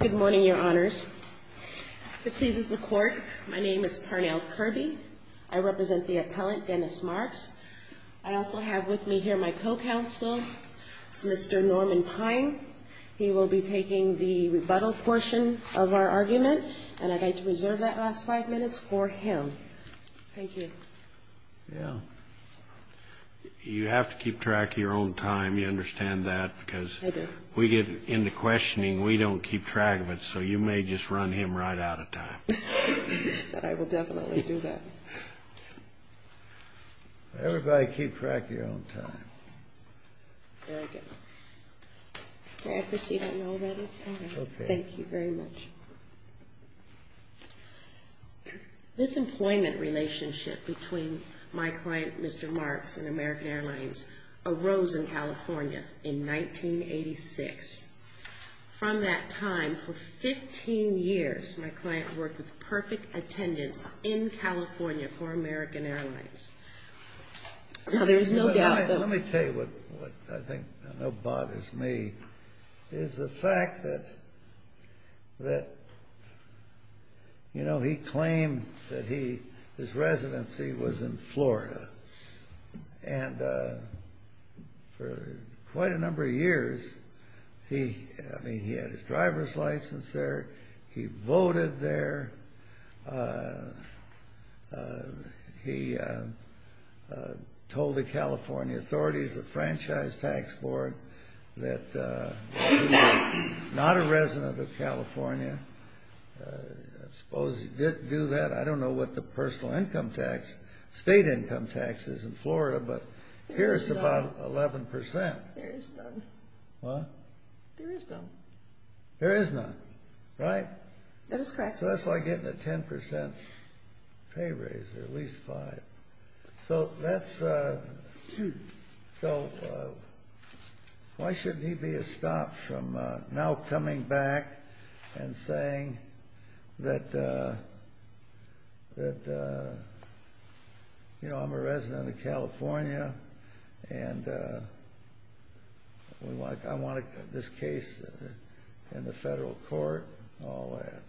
Good morning, Your Honors. If it pleases the Court, my name is Parnell Kirby. I represent the appellant, Dennis Marks. I also have with me here my co-counsel, Mr. Norman Pine. He will be taking the rebuttal portion of our argument, and I'd like to reserve that last five minutes for him. Thank you. You have to keep track of your own time. You understand that? Because we get into questioning, we don't keep track of it, so you may just run him right out of time. I will definitely do that. Everybody keep track of your own time. Very good. May I proceed, Your Honor? Thank you very much. This employment relationship between my client, Mr. Marks, and American Airlines arose in California in 1986. From that time, for 15 years, my client worked with perfect attendance in California for American Airlines. Now, there's no doubt that... Let me tell you what I think I know bothers me, is the fact that he claimed that his residency was in Florida. And for quite a number of years, he had his driver's license there, he voted there, he told the California authorities, the Franchise Tax Board, that he was not a resident of California. I suppose he did do that. I don't know what the personal income tax, state income tax is in Florida, but here it's about 11 percent. There is none. What? There is none. There is none, right? That is correct. So that's like getting a 10 percent pay raise, or at least five. So that's... So why shouldn't he be a stop from now coming back and saying that, you know, I'm a resident of California, and I want this case in the federal court, all that?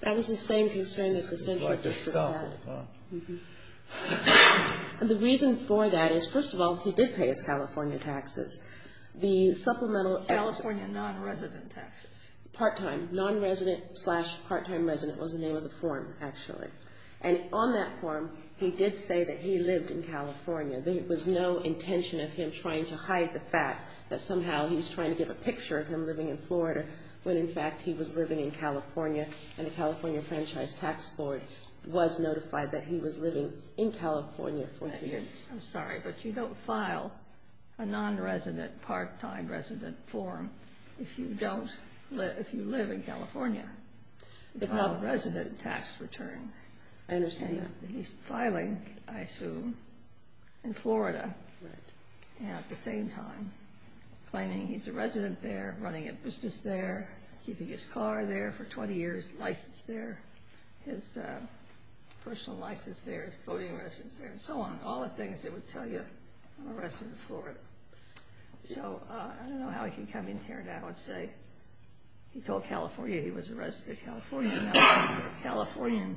That was the same concern that the Senator just had. It's like a stump, huh? The reason for that is, first of all, he did pay his California taxes. The supplemental... California non-resident taxes. Part-time. Non-resident slash part-time resident was the name of the form, actually. And on that form, he did say that he lived in California. There was no intention of him trying to hide the fact that somehow he was trying to give a picture of him living in Florida, when, in fact, he was living in California, and the California Franchise Tax Board was notified that he was living in California for a few years. I'm sorry, but you don't file a non-resident, part-time resident form if you don't live in California, if not a resident tax return. I understand that. He's filing, I assume, in Florida at the same time. Claiming he's a resident there, running a business there, keeping his car there for 20 years, license there, his personal license there, voting residence there, and so on. All the things that would tell you, I'm a resident of Florida. So, I don't know how he can come in here now. I'd say he told California he was a resident of California, and now he's a Californian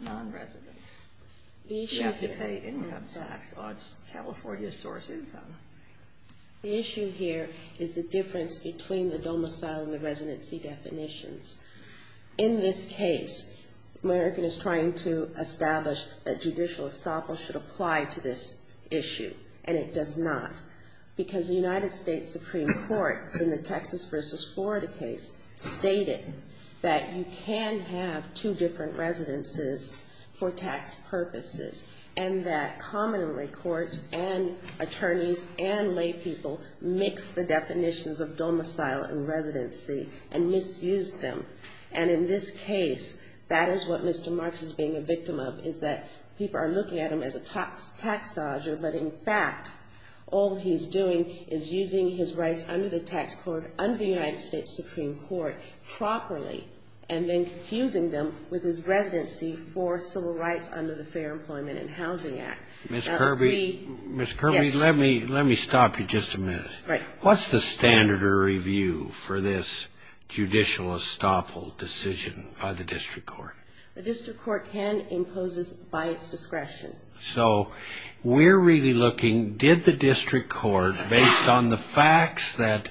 non-resident. You have to pay income tax on California's source income. The issue here is the difference between the domicile and the residency definitions. In this case, American is trying to establish a judicial establishment applied to this issue, and it does not, because the United States Supreme Court, in the Texas versus Florida case, stated that you can have two different residences for tax purposes, and that commonly courts and attorneys and laypeople mix the definitions of domicile and residency and misuse them. In this case, that is what Mr. March is being a victim of, is that people are looking at him as a tax dodger, but, in fact, all he's doing is using his rights under the tax court under the United States Supreme Court properly, and then confusing them with his residency for civil rights under the Fair Employment and Housing Act. Now, we, yes. Mr. Kirby, Mr. Kirby, let me stop you just a minute. Right. What's the standard or review for this judicial estoppel decision by the district court? The district court can impose this by its discretion. So we're really looking, did the district court, based on the facts that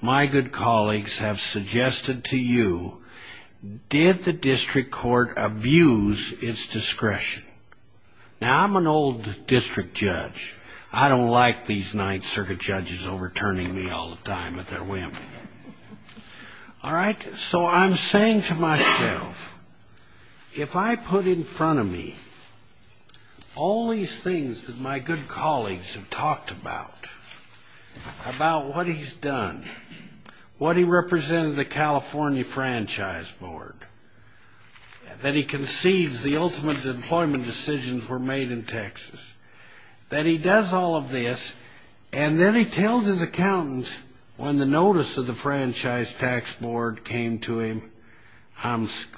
my good colleagues have suggested to you, did the district court abuse its discretion? Now, I'm an old district judge. I don't like these Ninth Circuit judges overturning me all the time at their whim. All right? So I'm saying to myself, if I put in front of me all these things that my good colleagues have talked about, about what he's done, what he represented the California Franchise Board, that he conceives the ultimate employment decisions were made in Texas, that he does all of this, and then he tells his accountants when the notice of the Franchise Tax Board came to him,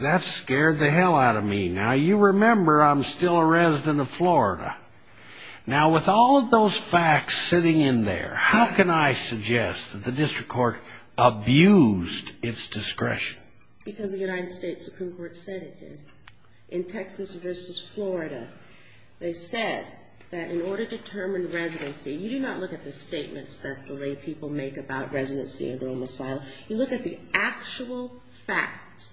that scared the hell out of me. Now, you remember I'm still a resident of Florida. Now, with all of those facts sitting in there, how can I suggest that the district court abused its discretion? Because the United States Supreme Court said it did. In Texas versus Florida, they said that in order to determine residency, you do not look at the statements that the lay people make about residency and normal asylum. You look at the actual facts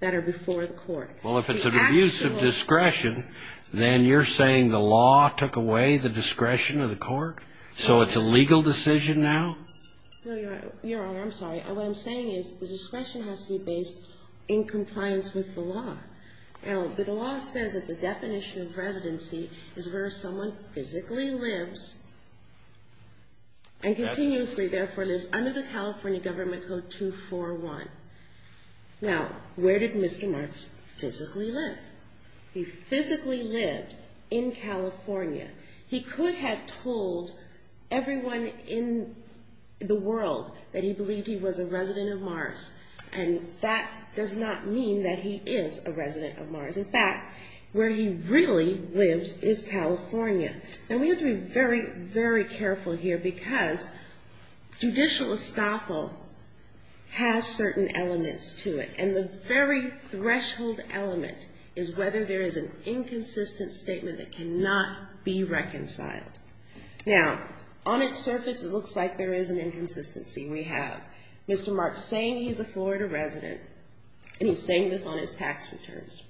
that are before the court. Well, if it's an abuse of discretion, then you're saying the law took away the discretion of the court? So it's a legal decision now? No, you're right. You're wrong. I'm sorry. What I'm saying is the discretion has to be based in compliance with the law. Now, the law says that the definition of residency is where someone physically lives and continuously, therefore, lives under the California Government Code 241. Now, where did Mr. Marks physically live? He physically lived in California. He could have told everyone in the world that he believed he was a resident of Mars. And that does not mean that he is a resident of Mars. In fact, where he really lives is California. Now, we have to be very, very careful here because judicial estoppel has certain elements to it. And the very threshold element is whether there is an inconsistent statement that cannot be reconciled. Now, on its surface, it looks like there is an inconsistency. We have Mr. Marks saying he's a Florida resident, and he's saying this on his tax returns.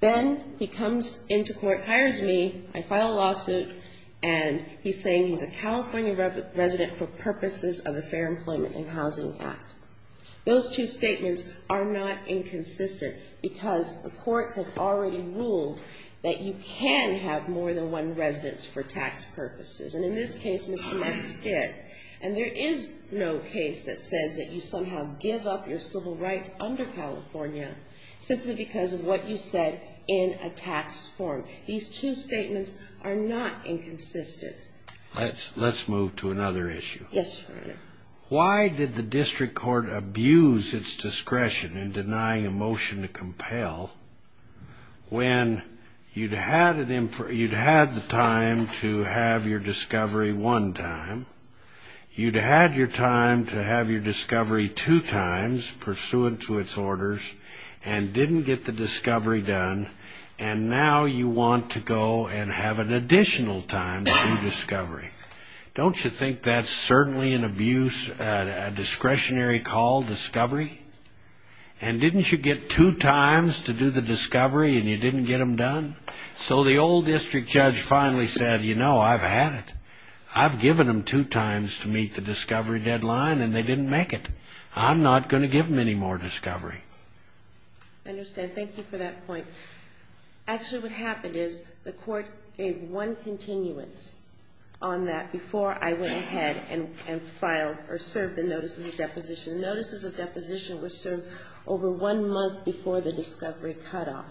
Then he comes into court, hires me, I file a lawsuit, and he's saying he's a California resident for purposes of the Fair Employment and Housing Act. Those two statements are not inconsistent because the courts have already ruled that you can have more than one residence for tax purposes. And in this case, Mr. Marks did. And there is no case that says that you somehow give up your civil rights under California simply because of what you said in a tax form. These two statements are not inconsistent. Let's move to another issue. Yes, Your Honor. Why did the district court abuse its discretion in denying a motion to compel when you'd had the time to have your discovery one time, you'd had your time to have your discovery two times pursuant to its orders, and didn't get the discovery done, and now you want to go and have an additional time to do discovery? Don't you think that's certainly an abuse, a discretionary call, discovery? And didn't you get two times to do the discovery, and you didn't get them done? So the old district judge finally said, you know, I've had it. I've given them two times to meet the discovery deadline, and they didn't make it. I'm not going to give them any more discovery. I understand. Thank you for that point. Actually, what happened is the court gave one continuance on that before I went ahead and filed or served the notices of deposition. Notices of deposition were served over one month before the discovery cutoff,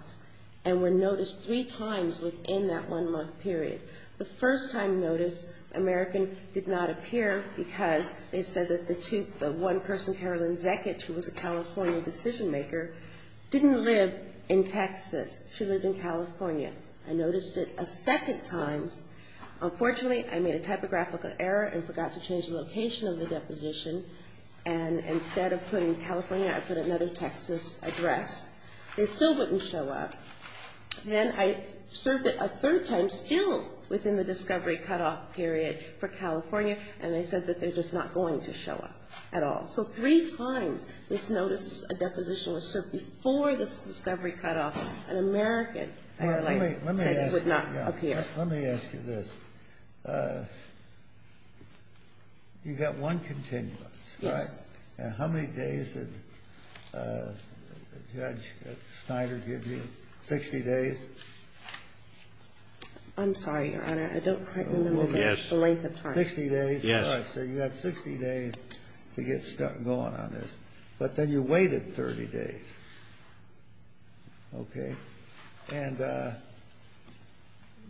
and were noticed three times within that one-month period. The first time noticed, American did not appear because they said that the one person, Carolyn Zekich, who was a California decision-maker, didn't live in Texas. She lived in California. I noticed it a second time. Unfortunately, I made a typographical error and forgot to change the location of the deposition, and instead of putting California, I put another Texas address. They still wouldn't show up. Then I served it a third time, still within the discovery cutoff period for California, and they said that they're just not going to show up at all. So three times, this notice of deposition was served before this discovery cutoff, and American Airlines said it would not appear. Let me ask you this. You got one continuance, right? Yes. And how many days did Judge Snyder give you? Sixty days? I'm sorry, Your Honor. I don't quite remember the length of time. Sixty days? Yes. So you got 60 days to get going on this. But then you waited 30 days, okay? And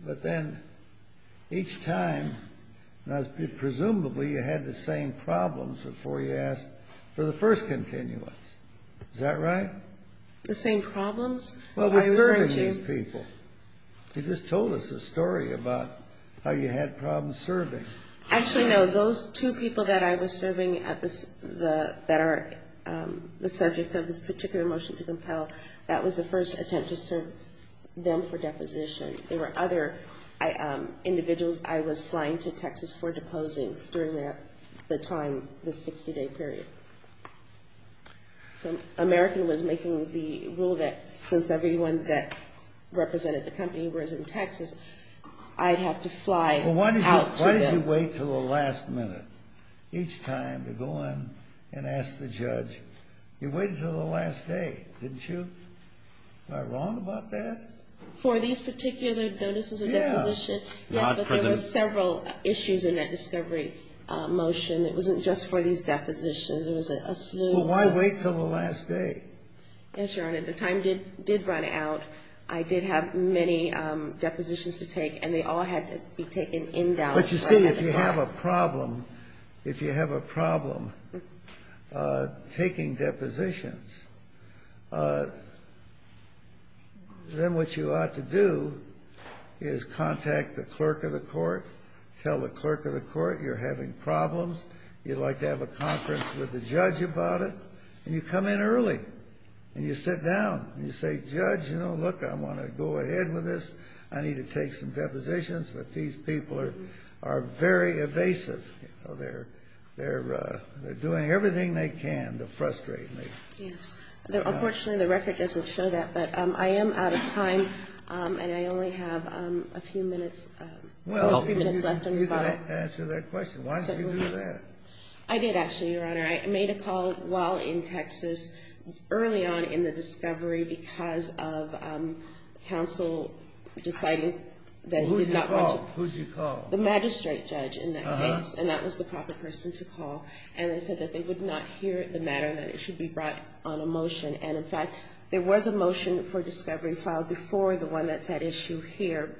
but then each time, presumably, you had the same problems before you asked for the first continuance. Is that right? The same problems? Well, we're serving these people. You just told us a story about how you had problems serving. Actually, no. Those two people that I was serving that are the subject of this particular motion to compel, that was the first attempt to serve them for deposition. There were other individuals I was flying to Texas for deposing during that time, the 60-day period. So American was making the rule that since everyone that represented the company was in Texas, I'd have to fly out to them. Why did you wait until the last minute each time to go in and ask the judge? You waited until the last day, didn't you? Am I wrong about that? For these particular notices of deposition, yes, but there were several issues in that discovery motion. It wasn't just for these depositions. It was a slew. Well, why wait until the last day? Yes, Your Honor. The time did run out. I did have many depositions to take, and they all had to be taken in Dallas. You see, if you have a problem taking depositions, then what you ought to do is contact the clerk of the court, tell the clerk of the court you're having problems, you'd like to have a conference with the judge about it, and you come in early, and you sit down, and you say, Judge, you know, look, I want to go ahead with this. I need to take some depositions, but these people are very evasive. They're doing everything they can to frustrate me. Yes. Unfortunately, the record doesn't show that, but I am out of time, and I only have a few minutes, well, three minutes left. Well, you didn't answer that question. Why didn't you do that? I did, actually, Your Honor. I made a call while in Texas, early on in the discovery, because of counsel deciding that he did not want to- Who did you call? The magistrate judge, in that case, and that was the proper person to call, and they said that they would not hear the matter, that it should be brought on a motion, and in fact, there was a motion for discovery filed before the one that's at issue here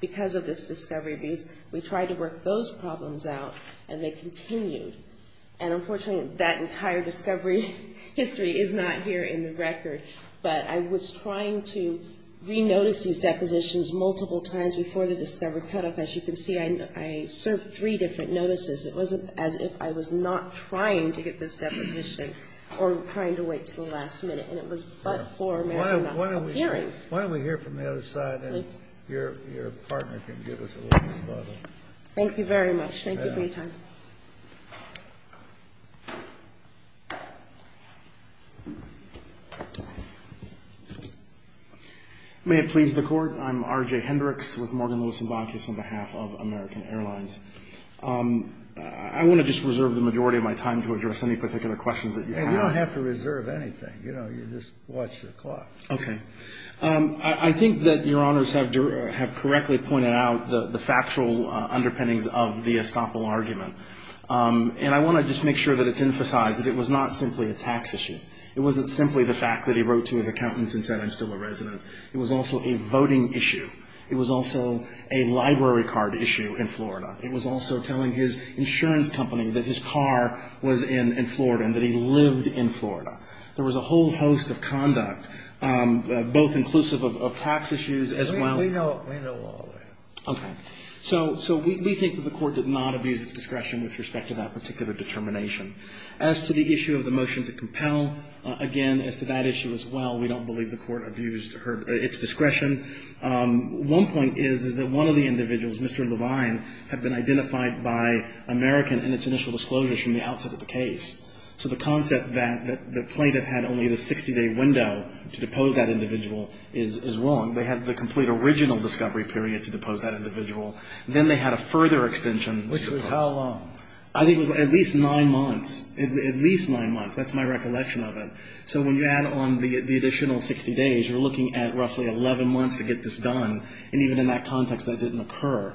because of this discovery, because we tried to work those problems out, and they continued, and unfortunately, that entire discovery history is not here in the record, but I was trying to re-notice these depositions multiple times before the discovery cutoff. As you can see, I served three different notices. It wasn't as if I was not trying to get this deposition or trying to wait to the last minute, and it was but for a matter of hearing. Why don't we hear from the other side, and your partner can give us a little further. Thank you very much. Thank you for your time. May it please the Court. I'm R.J. Hendricks with Morgan, Lewis & Bonkis on behalf of American Airlines. I want to just reserve the majority of my time to address any particular questions that you have. You don't have to reserve anything. You just watch the clock. Okay. I think that your honors have correctly pointed out the factual underpinnings of the Estoppel argument, and I want to just make sure that it's emphasized that it was not simply a tax issue. It wasn't simply the fact that he wrote to his accountant and said, I'm still a resident. It was also a voting issue. It was also a library card issue in Florida. It was also telling his insurance company that his car was in Florida and that he lived in Florida. There was a whole host of conduct, both inclusive of tax issues as well. We know all that. Okay. So we think that the Court did not abuse its discretion with respect to that particular determination. As to the issue of the motion to compel, again, as to that issue as well, we don't believe the Court abused its discretion. One point is that one of the individuals, Mr. Levine, had been identified by American in its initial disclosures from the outset of the case. So the concept that the plaintiff had only the 60-day window to depose that individual is wrong. They had the complete original discovery period to depose that individual. Then they had a further extension. Which was how long? I think it was at least nine months. At least nine months. That's my recollection of it. So when you add on the additional 60 days, you're looking at roughly 11 months to get this done. And even in that context, that didn't occur.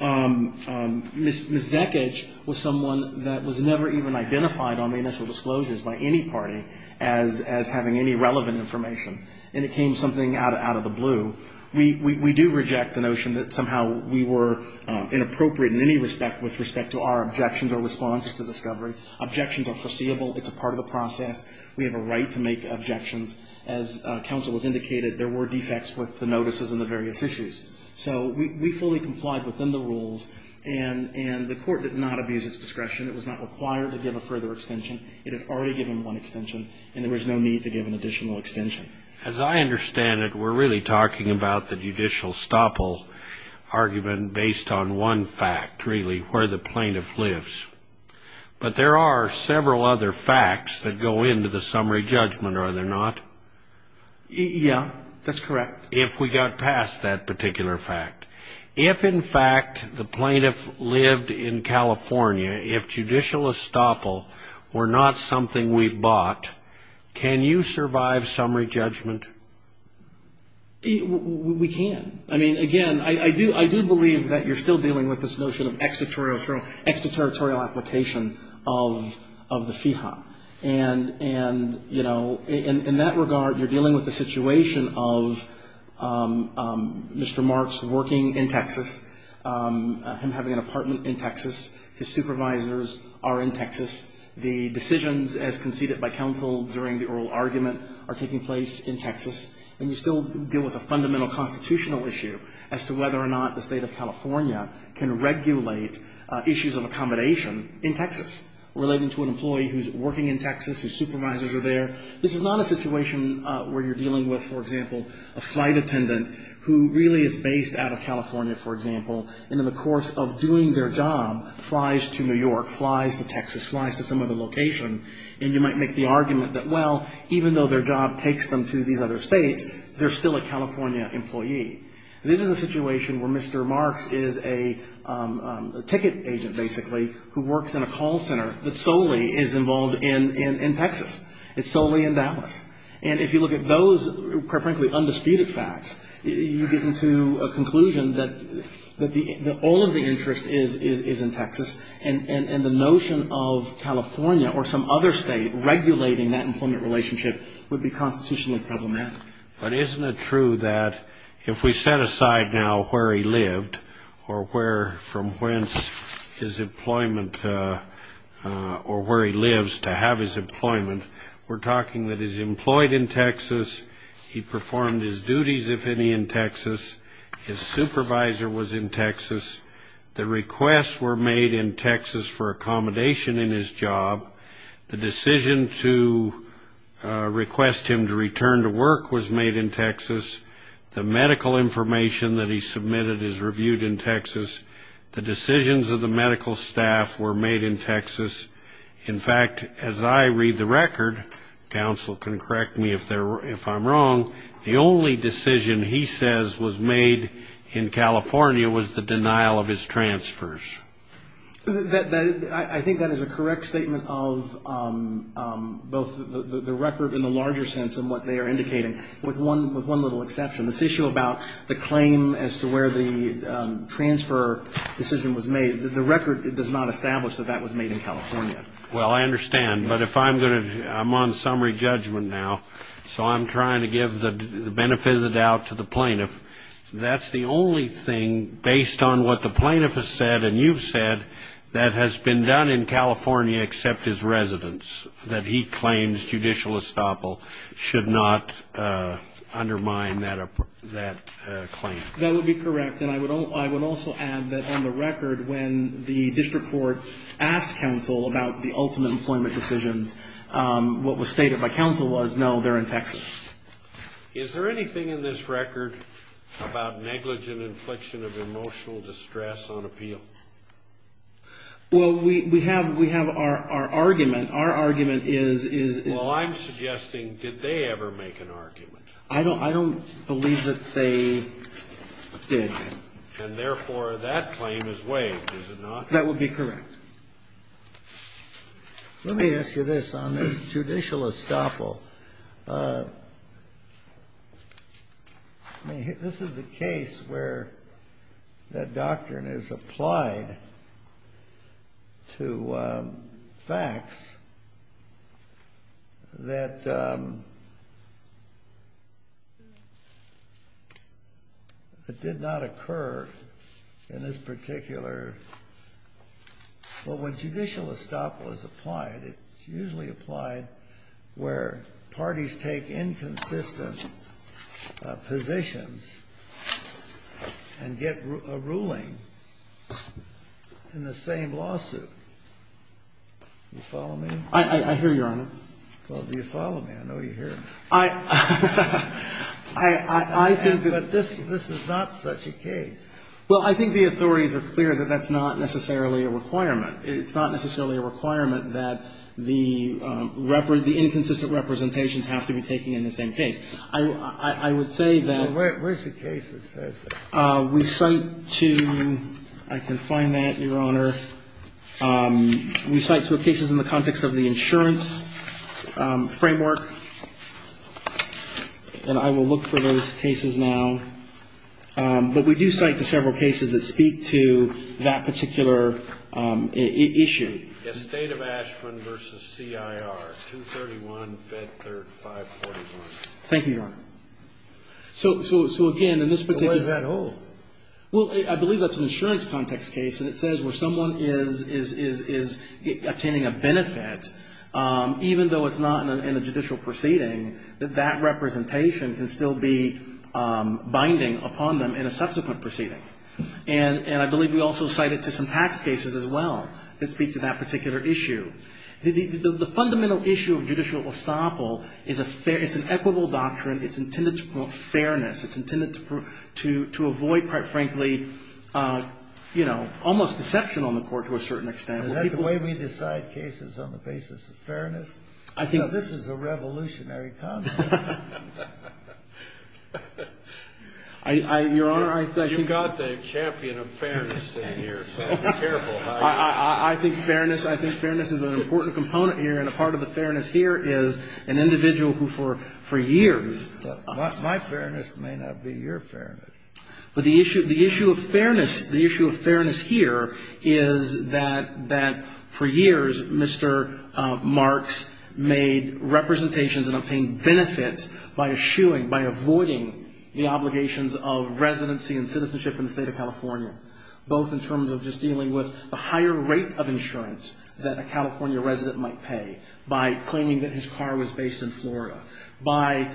Ms. Zekic was someone that was never even identified on the initial disclosures by any party as having any relevant information. And it came something out of the blue. We do reject the notion that somehow we were inappropriate in any respect with respect to our objections or responses to discovery. Objections are foreseeable. It's a part of the process. We have a right to make objections. As counsel has indicated, there were defects with the notices and the various issues. So we fully complied within the rules. And the Court did not abuse its discretion. It was not required to give a further extension. It had already given one extension. And there was no need to give an additional extension. As I understand it, we're really talking about the judicial estoppel argument based on one fact, really, where the plaintiff lives. But there are several other facts that go into the summary judgment, are there not? Yeah, that's correct. If we got past that particular fact. If, in fact, the plaintiff lived in California, if judicial estoppel were not something we could do, we would not be able to get past that particular argument. We can. I mean, again, I do believe that you're still dealing with this notion of extraterritorial application of the FIHA. And, you know, in that regard, you're dealing with the situation of Mr. Marks working in Texas, him having an apartment in Texas. His supervisors are in Texas. The decisions as conceded by counsel during the oral argument are taking place in Texas. And you still deal with a fundamental constitutional issue as to whether or not the State of California can regulate issues of accommodation in Texas relating to an employee who's working in Texas, whose supervisors are there. This is not a situation where you're dealing with, for example, a flight attendant who really is based out of California, for example, and in the course of doing their job, flies to New York, flies to Texas, flies to some other location, and you might make the argument that, well, even though their job takes them to these other states, they're still a California employee. This is a situation where Mr. Marks is a ticket agent, basically, who works in a call center that solely is involved in Texas. It's solely in Dallas. And if you look at those, quite frankly, undisputed facts, you get into a conclusion that all of the interest is in Texas. And the notion of California or some other state regulating that employment relationship would be constitutionally problematic. But isn't it true that if we set aside now where he lived or where from whence his employment or where he lives to have his employment, we're talking that he's employed in Texas, he performed his duties, if any, in Texas, his supervisor was in Texas, the requests were made in Texas for accommodation in his job, the decision to request him to return to work was made in Texas, the medical information that he submitted is reviewed in Texas, the decisions of the medical staff were made in Texas. In fact, as I read the record, counsel can correct me if I'm wrong, the only decision he says was made in California was the denial of his transfers. I think that is a correct statement of both the record in the larger sense and what they are indicating, with one little exception. This issue about the claim as to where the transfer decision was made, the record does not establish that that was made in California. Well, I understand, but if I'm going to, I'm on summary judgment now, so I'm trying to give the benefit of the doubt to the plaintiff, that's the only thing based on what the plaintiff has said and you've said that has been done in California except his residence, that he claims judicial estoppel should not undermine that claim. That would be correct, and I would also add that on the record when the district court asked counsel about the ultimate employment decisions, what was stated by counsel was no, they're in Texas. Is there anything in this record about negligent infliction of emotional distress on appeal? Well, we have our argument. Our argument is... Well, I'm suggesting, did they ever make an argument? I don't believe that they did. And therefore, that claim is waived, is it not? That would be correct. Let me ask you this. On this judicial estoppel, this is a case where that doctrine is applied to facts that did not occur in this particular... Well, when judicial estoppel is applied, it's usually applied where parties take inconsistent positions and get a ruling in the same lawsuit. Do you follow me? I hear you, Your Honor. Well, do you follow me? I know you hear me. I think that this is not such a case. Well, I think the authorities are clear that that's not necessarily a requirement. It's not necessarily a requirement that the inconsistent representations have to be taken in the same case. I would say that... Well, where's the case that says that? We cite to, I can find that, Your Honor. We cite to cases in the context of the insurance framework. And I will look for those cases now. But we do cite to several cases that speak to that particular issue. The state of Ashman versus CIR, 231, Fed Third, 541. Thank you, Your Honor. So again, in this particular... What does that hold? Well, I believe that's an insurance context case. And it says where someone is obtaining a benefit, even though it's not in a judicial proceeding, that that representation can still be binding upon them in a subsequent proceeding. And I believe we also cite it to some tax cases as well that speak to that particular issue. The fundamental issue of judicial estoppel, it's an equitable doctrine. It's intended to promote fairness. It's intended to avoid, quite frankly, almost deception on the court to a certain extent. Is that the way we decide cases on the basis of fairness? I think... This is a revolutionary concept. You've got the champion of fairness in here. So be careful. I think fairness is an important component here. And a part of the fairness here is an individual who, for years... My fairness may not be your fairness. But the issue of fairness, the issue of fairness here is that for years, Mr. Marks made representations and obtained benefits by eschewing, by avoiding the obligations of residency and citizenship in the State of California, both in terms of just dealing with the higher rate of insurance that a California resident might pay by claiming that his car was based in Florida, by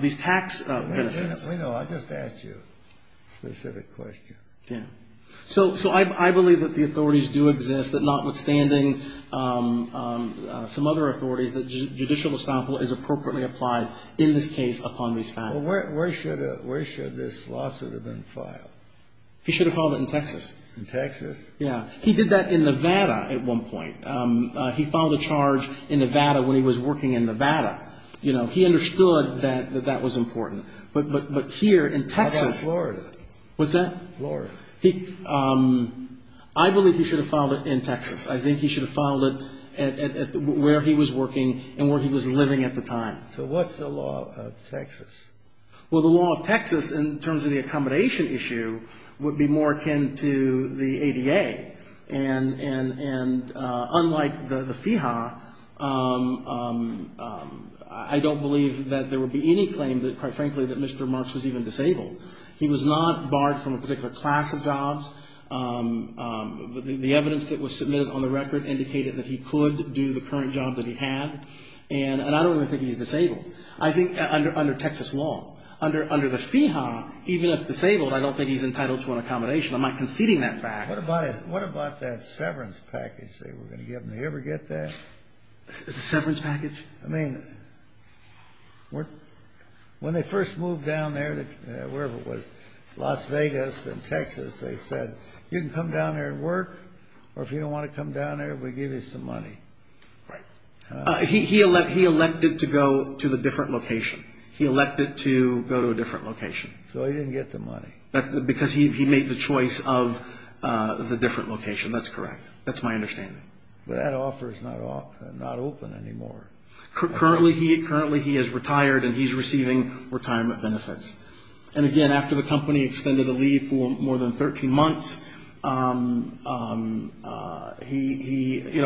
these tax benefits. Wait a minute. Wait a minute. I'll just ask you a specific question. Yeah. So I believe that the authorities do exist, that notwithstanding some other authorities, that judicial estoppel is appropriately applied in this case upon these facts. Well, where should this lawsuit have been filed? He should have filed it in Texas. In Texas? Yeah. He did that in Nevada at one point. He filed a charge in Nevada when he was working in Nevada. You know, he understood that that was important. But here in Texas... How about Florida? What's that? Florida. I believe he should have filed it in Texas. I think he should have filed it at where he was working and where he was living at the time. So what's the law of Texas? Well, the law of Texas, in terms of the accommodation issue, would be more akin to the ADA. And unlike the FIHA, I don't believe that there would be any claim that, quite frankly, that Mr. Marks was even disabled. He was not barred from a particular class of jobs. The evidence that was submitted on the record indicated that he could do the current job that he had. And I don't even think he's disabled. I think under Texas law, under the FIHA, even if disabled, I don't think he's entitled to an accommodation. I'm not conceding that fact. What about that severance package they were going to give him? Did he ever get that? The severance package? I mean, when they first moved down there, wherever it was, Las Vegas and Texas, they said, you can come down there and work, or if you don't want to come down there, we'll give you some money. Right. He elected to go to the different location. He elected to go to a different location. So he didn't get the money. Because he made the choice of the different location. That's correct. That's my understanding. But that offer is not open anymore. Currently, he is retired, and he's receiving retirement benefits. And again, after the company extended the leave for more than 13 months,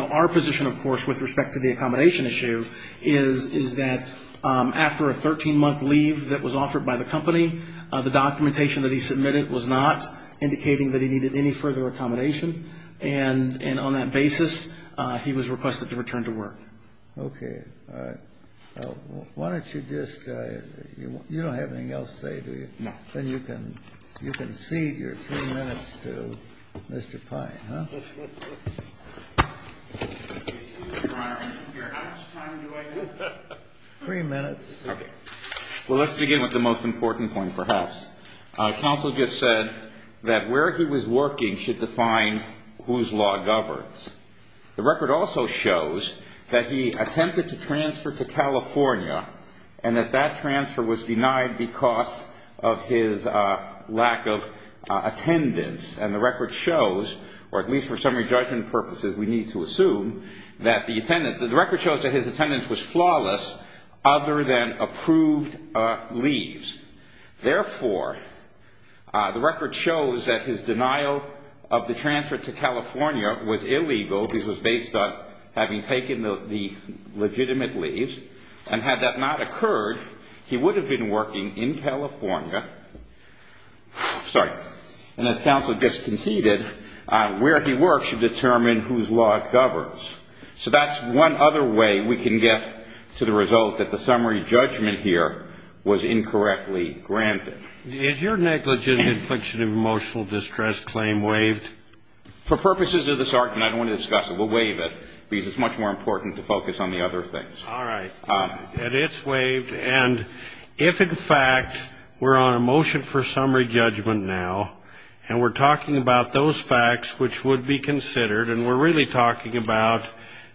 our position, of course, with respect to the accommodation issue is that after a 13-month leave that was offered by the company, the documentation that he submitted was not indicating that he needed any further accommodation. And on that basis, he was requested to return to work. Okay. All right. Why don't you just, you don't have anything else to say, do you? No. Then you can cede your three minutes to Mr. Pine, huh? Excuse me, Your Honor, how much time do I have? Three minutes. Okay. Well, let's begin with the most important point, perhaps. Counsel just said that where he was working should define whose law governs. The record also shows that he attempted to transfer to California, and that that transfer was denied because of his lack of attendance. And the record shows, or at least for summary judgment purposes, we need to assume that the record shows that his attendance was flawless other than approved leaves. Therefore, the record shows that his denial of the transfer to California was illegal because it was based on having taken the legitimate leaves. And had that not occurred, he would have been working in California. Sorry. And as counsel just conceded, where he works should determine whose law governs. So that's one other way we can get to the result that the summary judgment here was incorrectly granted. Is your negligent infliction of emotional distress claim waived? For purposes of this argument, I don't want to discuss it. We'll waive it because it's much more important to focus on the other things. All right. And it's waived. And if, in fact, we're on a motion for summary judgment now, and we're talking about those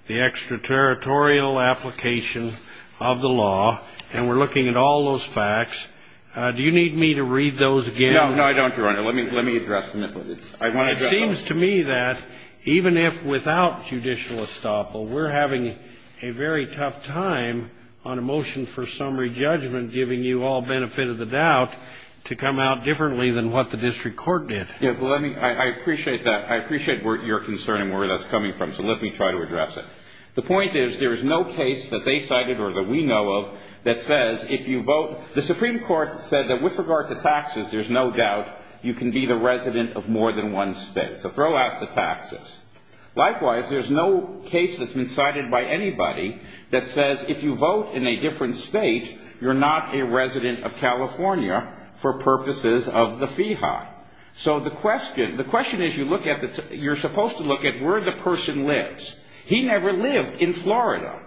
the extraterritorial application of the law, and we're looking at all those facts, do you need me to read those again? No. No, I don't, Your Honor. Let me address them. It seems to me that even if without judicial estoppel, we're having a very tough time on a motion for summary judgment, giving you all benefit of the doubt to come out differently than what the district court did. Yeah. Well, let me. I appreciate that. I appreciate your concern and where that's coming from. So let me try to address it. The point is there is no case that they cited or that we know of that says if you vote. The Supreme Court said that with regard to taxes, there's no doubt you can be the resident of more than one state. So throw out the taxes. Likewise, there's no case that's been cited by anybody that says if you vote in a different state, you're not a resident of California for purposes of the FIHA. So the question is you're supposed to look at where the person lives. He never lived in Florida.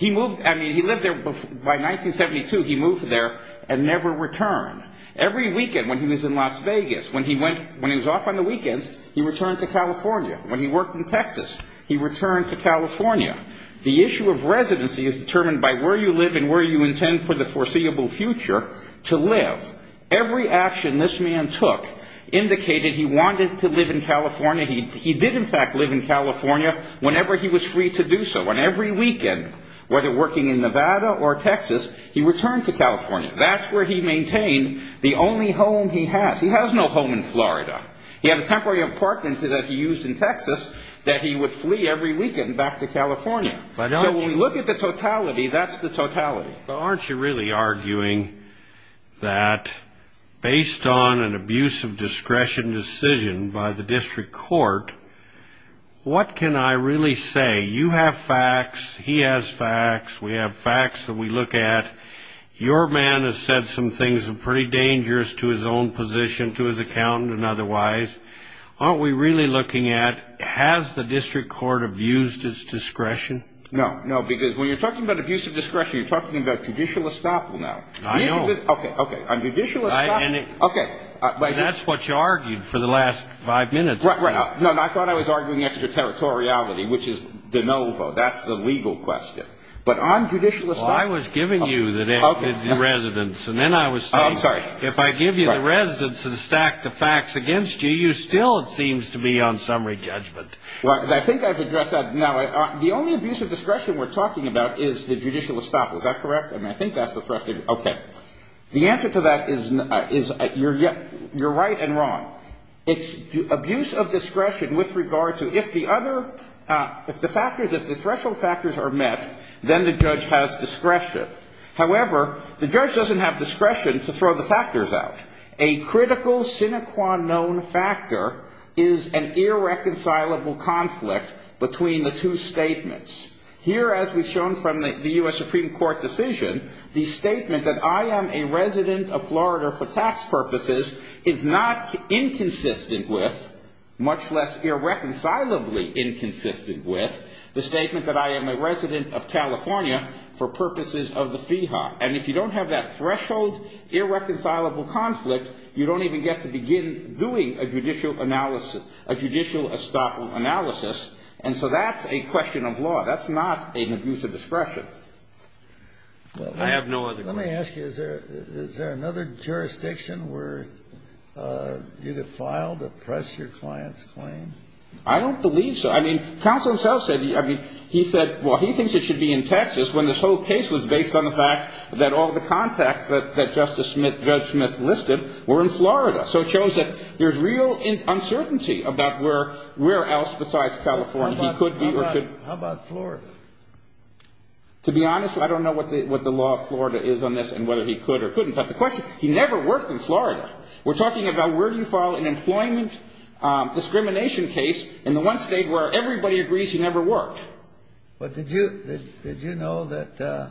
By 1972, he moved there and never returned. Every weekend when he was in Las Vegas, when he was off on the weekends, he returned to California. When he worked in Texas, he returned to California. The issue of residency is determined by where you live and where you intend for the foreseeable future to live. Every action this man took indicated he wanted to live in California. He did, in fact, live in California whenever he was free to do so. And every weekend, whether working in Nevada or Texas, he returned to California. That's where he maintained the only home he has. He has no home in Florida. He had a temporary apartment that he used in Texas that he would flee every weekend back to California. So when we look at the totality, that's the totality. Well, aren't you really arguing that based on an abuse of discretion decision by the district court, what can I really say? You have facts. He has facts. We have facts that we look at. Your man has said some things that are pretty dangerous to his own position, to his accountant and otherwise. Aren't we really looking at has the district court abused its discretion? No. No, because when you're talking about abuse of discretion, you're talking about judicial estoppel now. I know. Okay. Okay. On judicial estoppel. Okay. That's what you argued for the last five minutes. Right, right. No, I thought I was arguing extraterritoriality, which is de novo. That's the legal question. But on judicial estoppel. I was giving you the residence. And then I was saying, if I give you the residence and stack the facts against you, you still seems to be on summary judgment. Right. I think I've addressed that. The only abuse of discretion we're talking about is the judicial estoppel. Is that correct? And I think that's the threat. Okay. The answer to that is you're right and wrong. It's abuse of discretion with regard to if the other, if the factors, if the threshold factors are met, then the judge has discretion. However, the judge doesn't have discretion to throw the factors out. A critical sine qua non factor is an irreconcilable conflict between the two statements. Here, as we've shown from the U.S. Supreme Court decision, the statement that I am a resident of Florida for tax purposes is not inconsistent with, much less irreconcilably inconsistent with, the statement that I am a resident of California for purposes of the FIHA. And if you don't have that threshold, irreconcilable conflict, you don't even get to begin doing a judicial analysis, a judicial estoppel analysis. And so that's a question of law. That's not an abuse of discretion. I have no other question. Let me ask you, is there another jurisdiction where you could file to press your client's claim? I don't believe so. I mean, counsel himself said, I mean, he said, well, he thinks it should be in Texas when this whole case was based on the fact that all the contacts that Justice Smith, Judge Smith listed were in Florida. So it shows that there's real uncertainty about where else besides California he could be or should be. How about Florida? To be honest, I don't know what the law of Florida is on this and whether he could or couldn't. But the question, he never worked in Florida. We're talking about where do you file an employment discrimination case in the one state where everybody agrees he never worked? But did you know that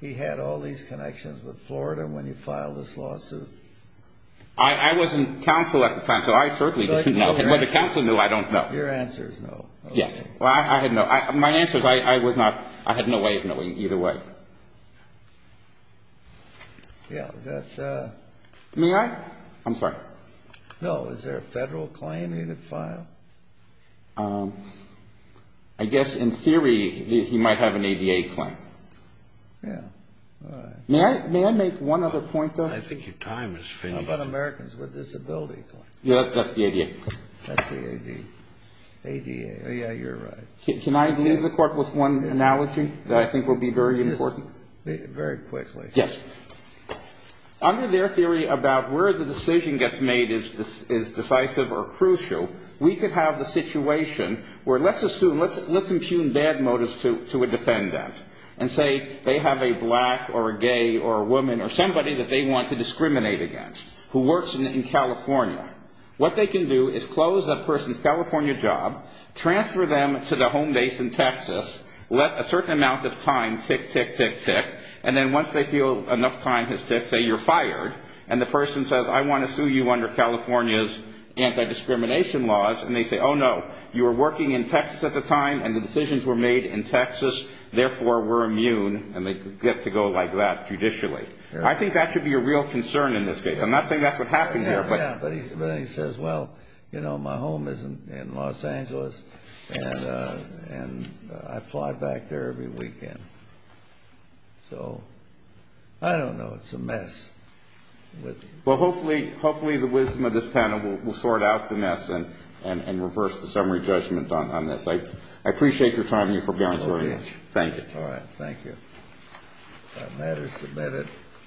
he had all these connections with Florida when you filed this lawsuit? I wasn't counsel at the time, so I certainly didn't know. But if counsel knew, I don't know. Your answer is no. Yes. Well, I had no, my answer is I was not, I had no way of knowing either way. Yeah. May I? I'm sorry. No. Is there a federal claim he could file? I guess in theory, he might have an ADA claim. Yeah. May I make one other point, though? I think your time is finished. How about Americans with Disabilities Claim? Yeah, that's the ADA. That's the ADA. Oh, yeah, you're right. Can I leave the court with one analogy that I think will be very important? Very quickly. Yes. Okay. Under their theory about where the decision gets made is decisive or crucial, we could have the situation where let's assume, let's impugn bad motives to a defendant and say they have a black or a gay or a woman or somebody that they want to discriminate against who works in California. What they can do is close that person's California job, transfer them to their home base in Texas, let a certain amount of time tick, tick, tick, tick. And then once they feel enough time has ticked, say you're fired. And the person says, I want to sue you under California's anti-discrimination laws. And they say, oh, no, you were working in Texas at the time, and the decisions were made in Texas. Therefore, we're immune. And they get to go like that judicially. I think that should be a real concern in this case. I'm not saying that's what happened here. Yeah. But he says, well, you know, my home is in Los Angeles, and I fly back there every weekend. So I don't know. It's a mess. Well, hopefully the wisdom of this panel will sort out the mess and reverse the summary judgment on this. I appreciate your time. You're forbearance very much. Thank you. All right. Thank you. That matter is submitted.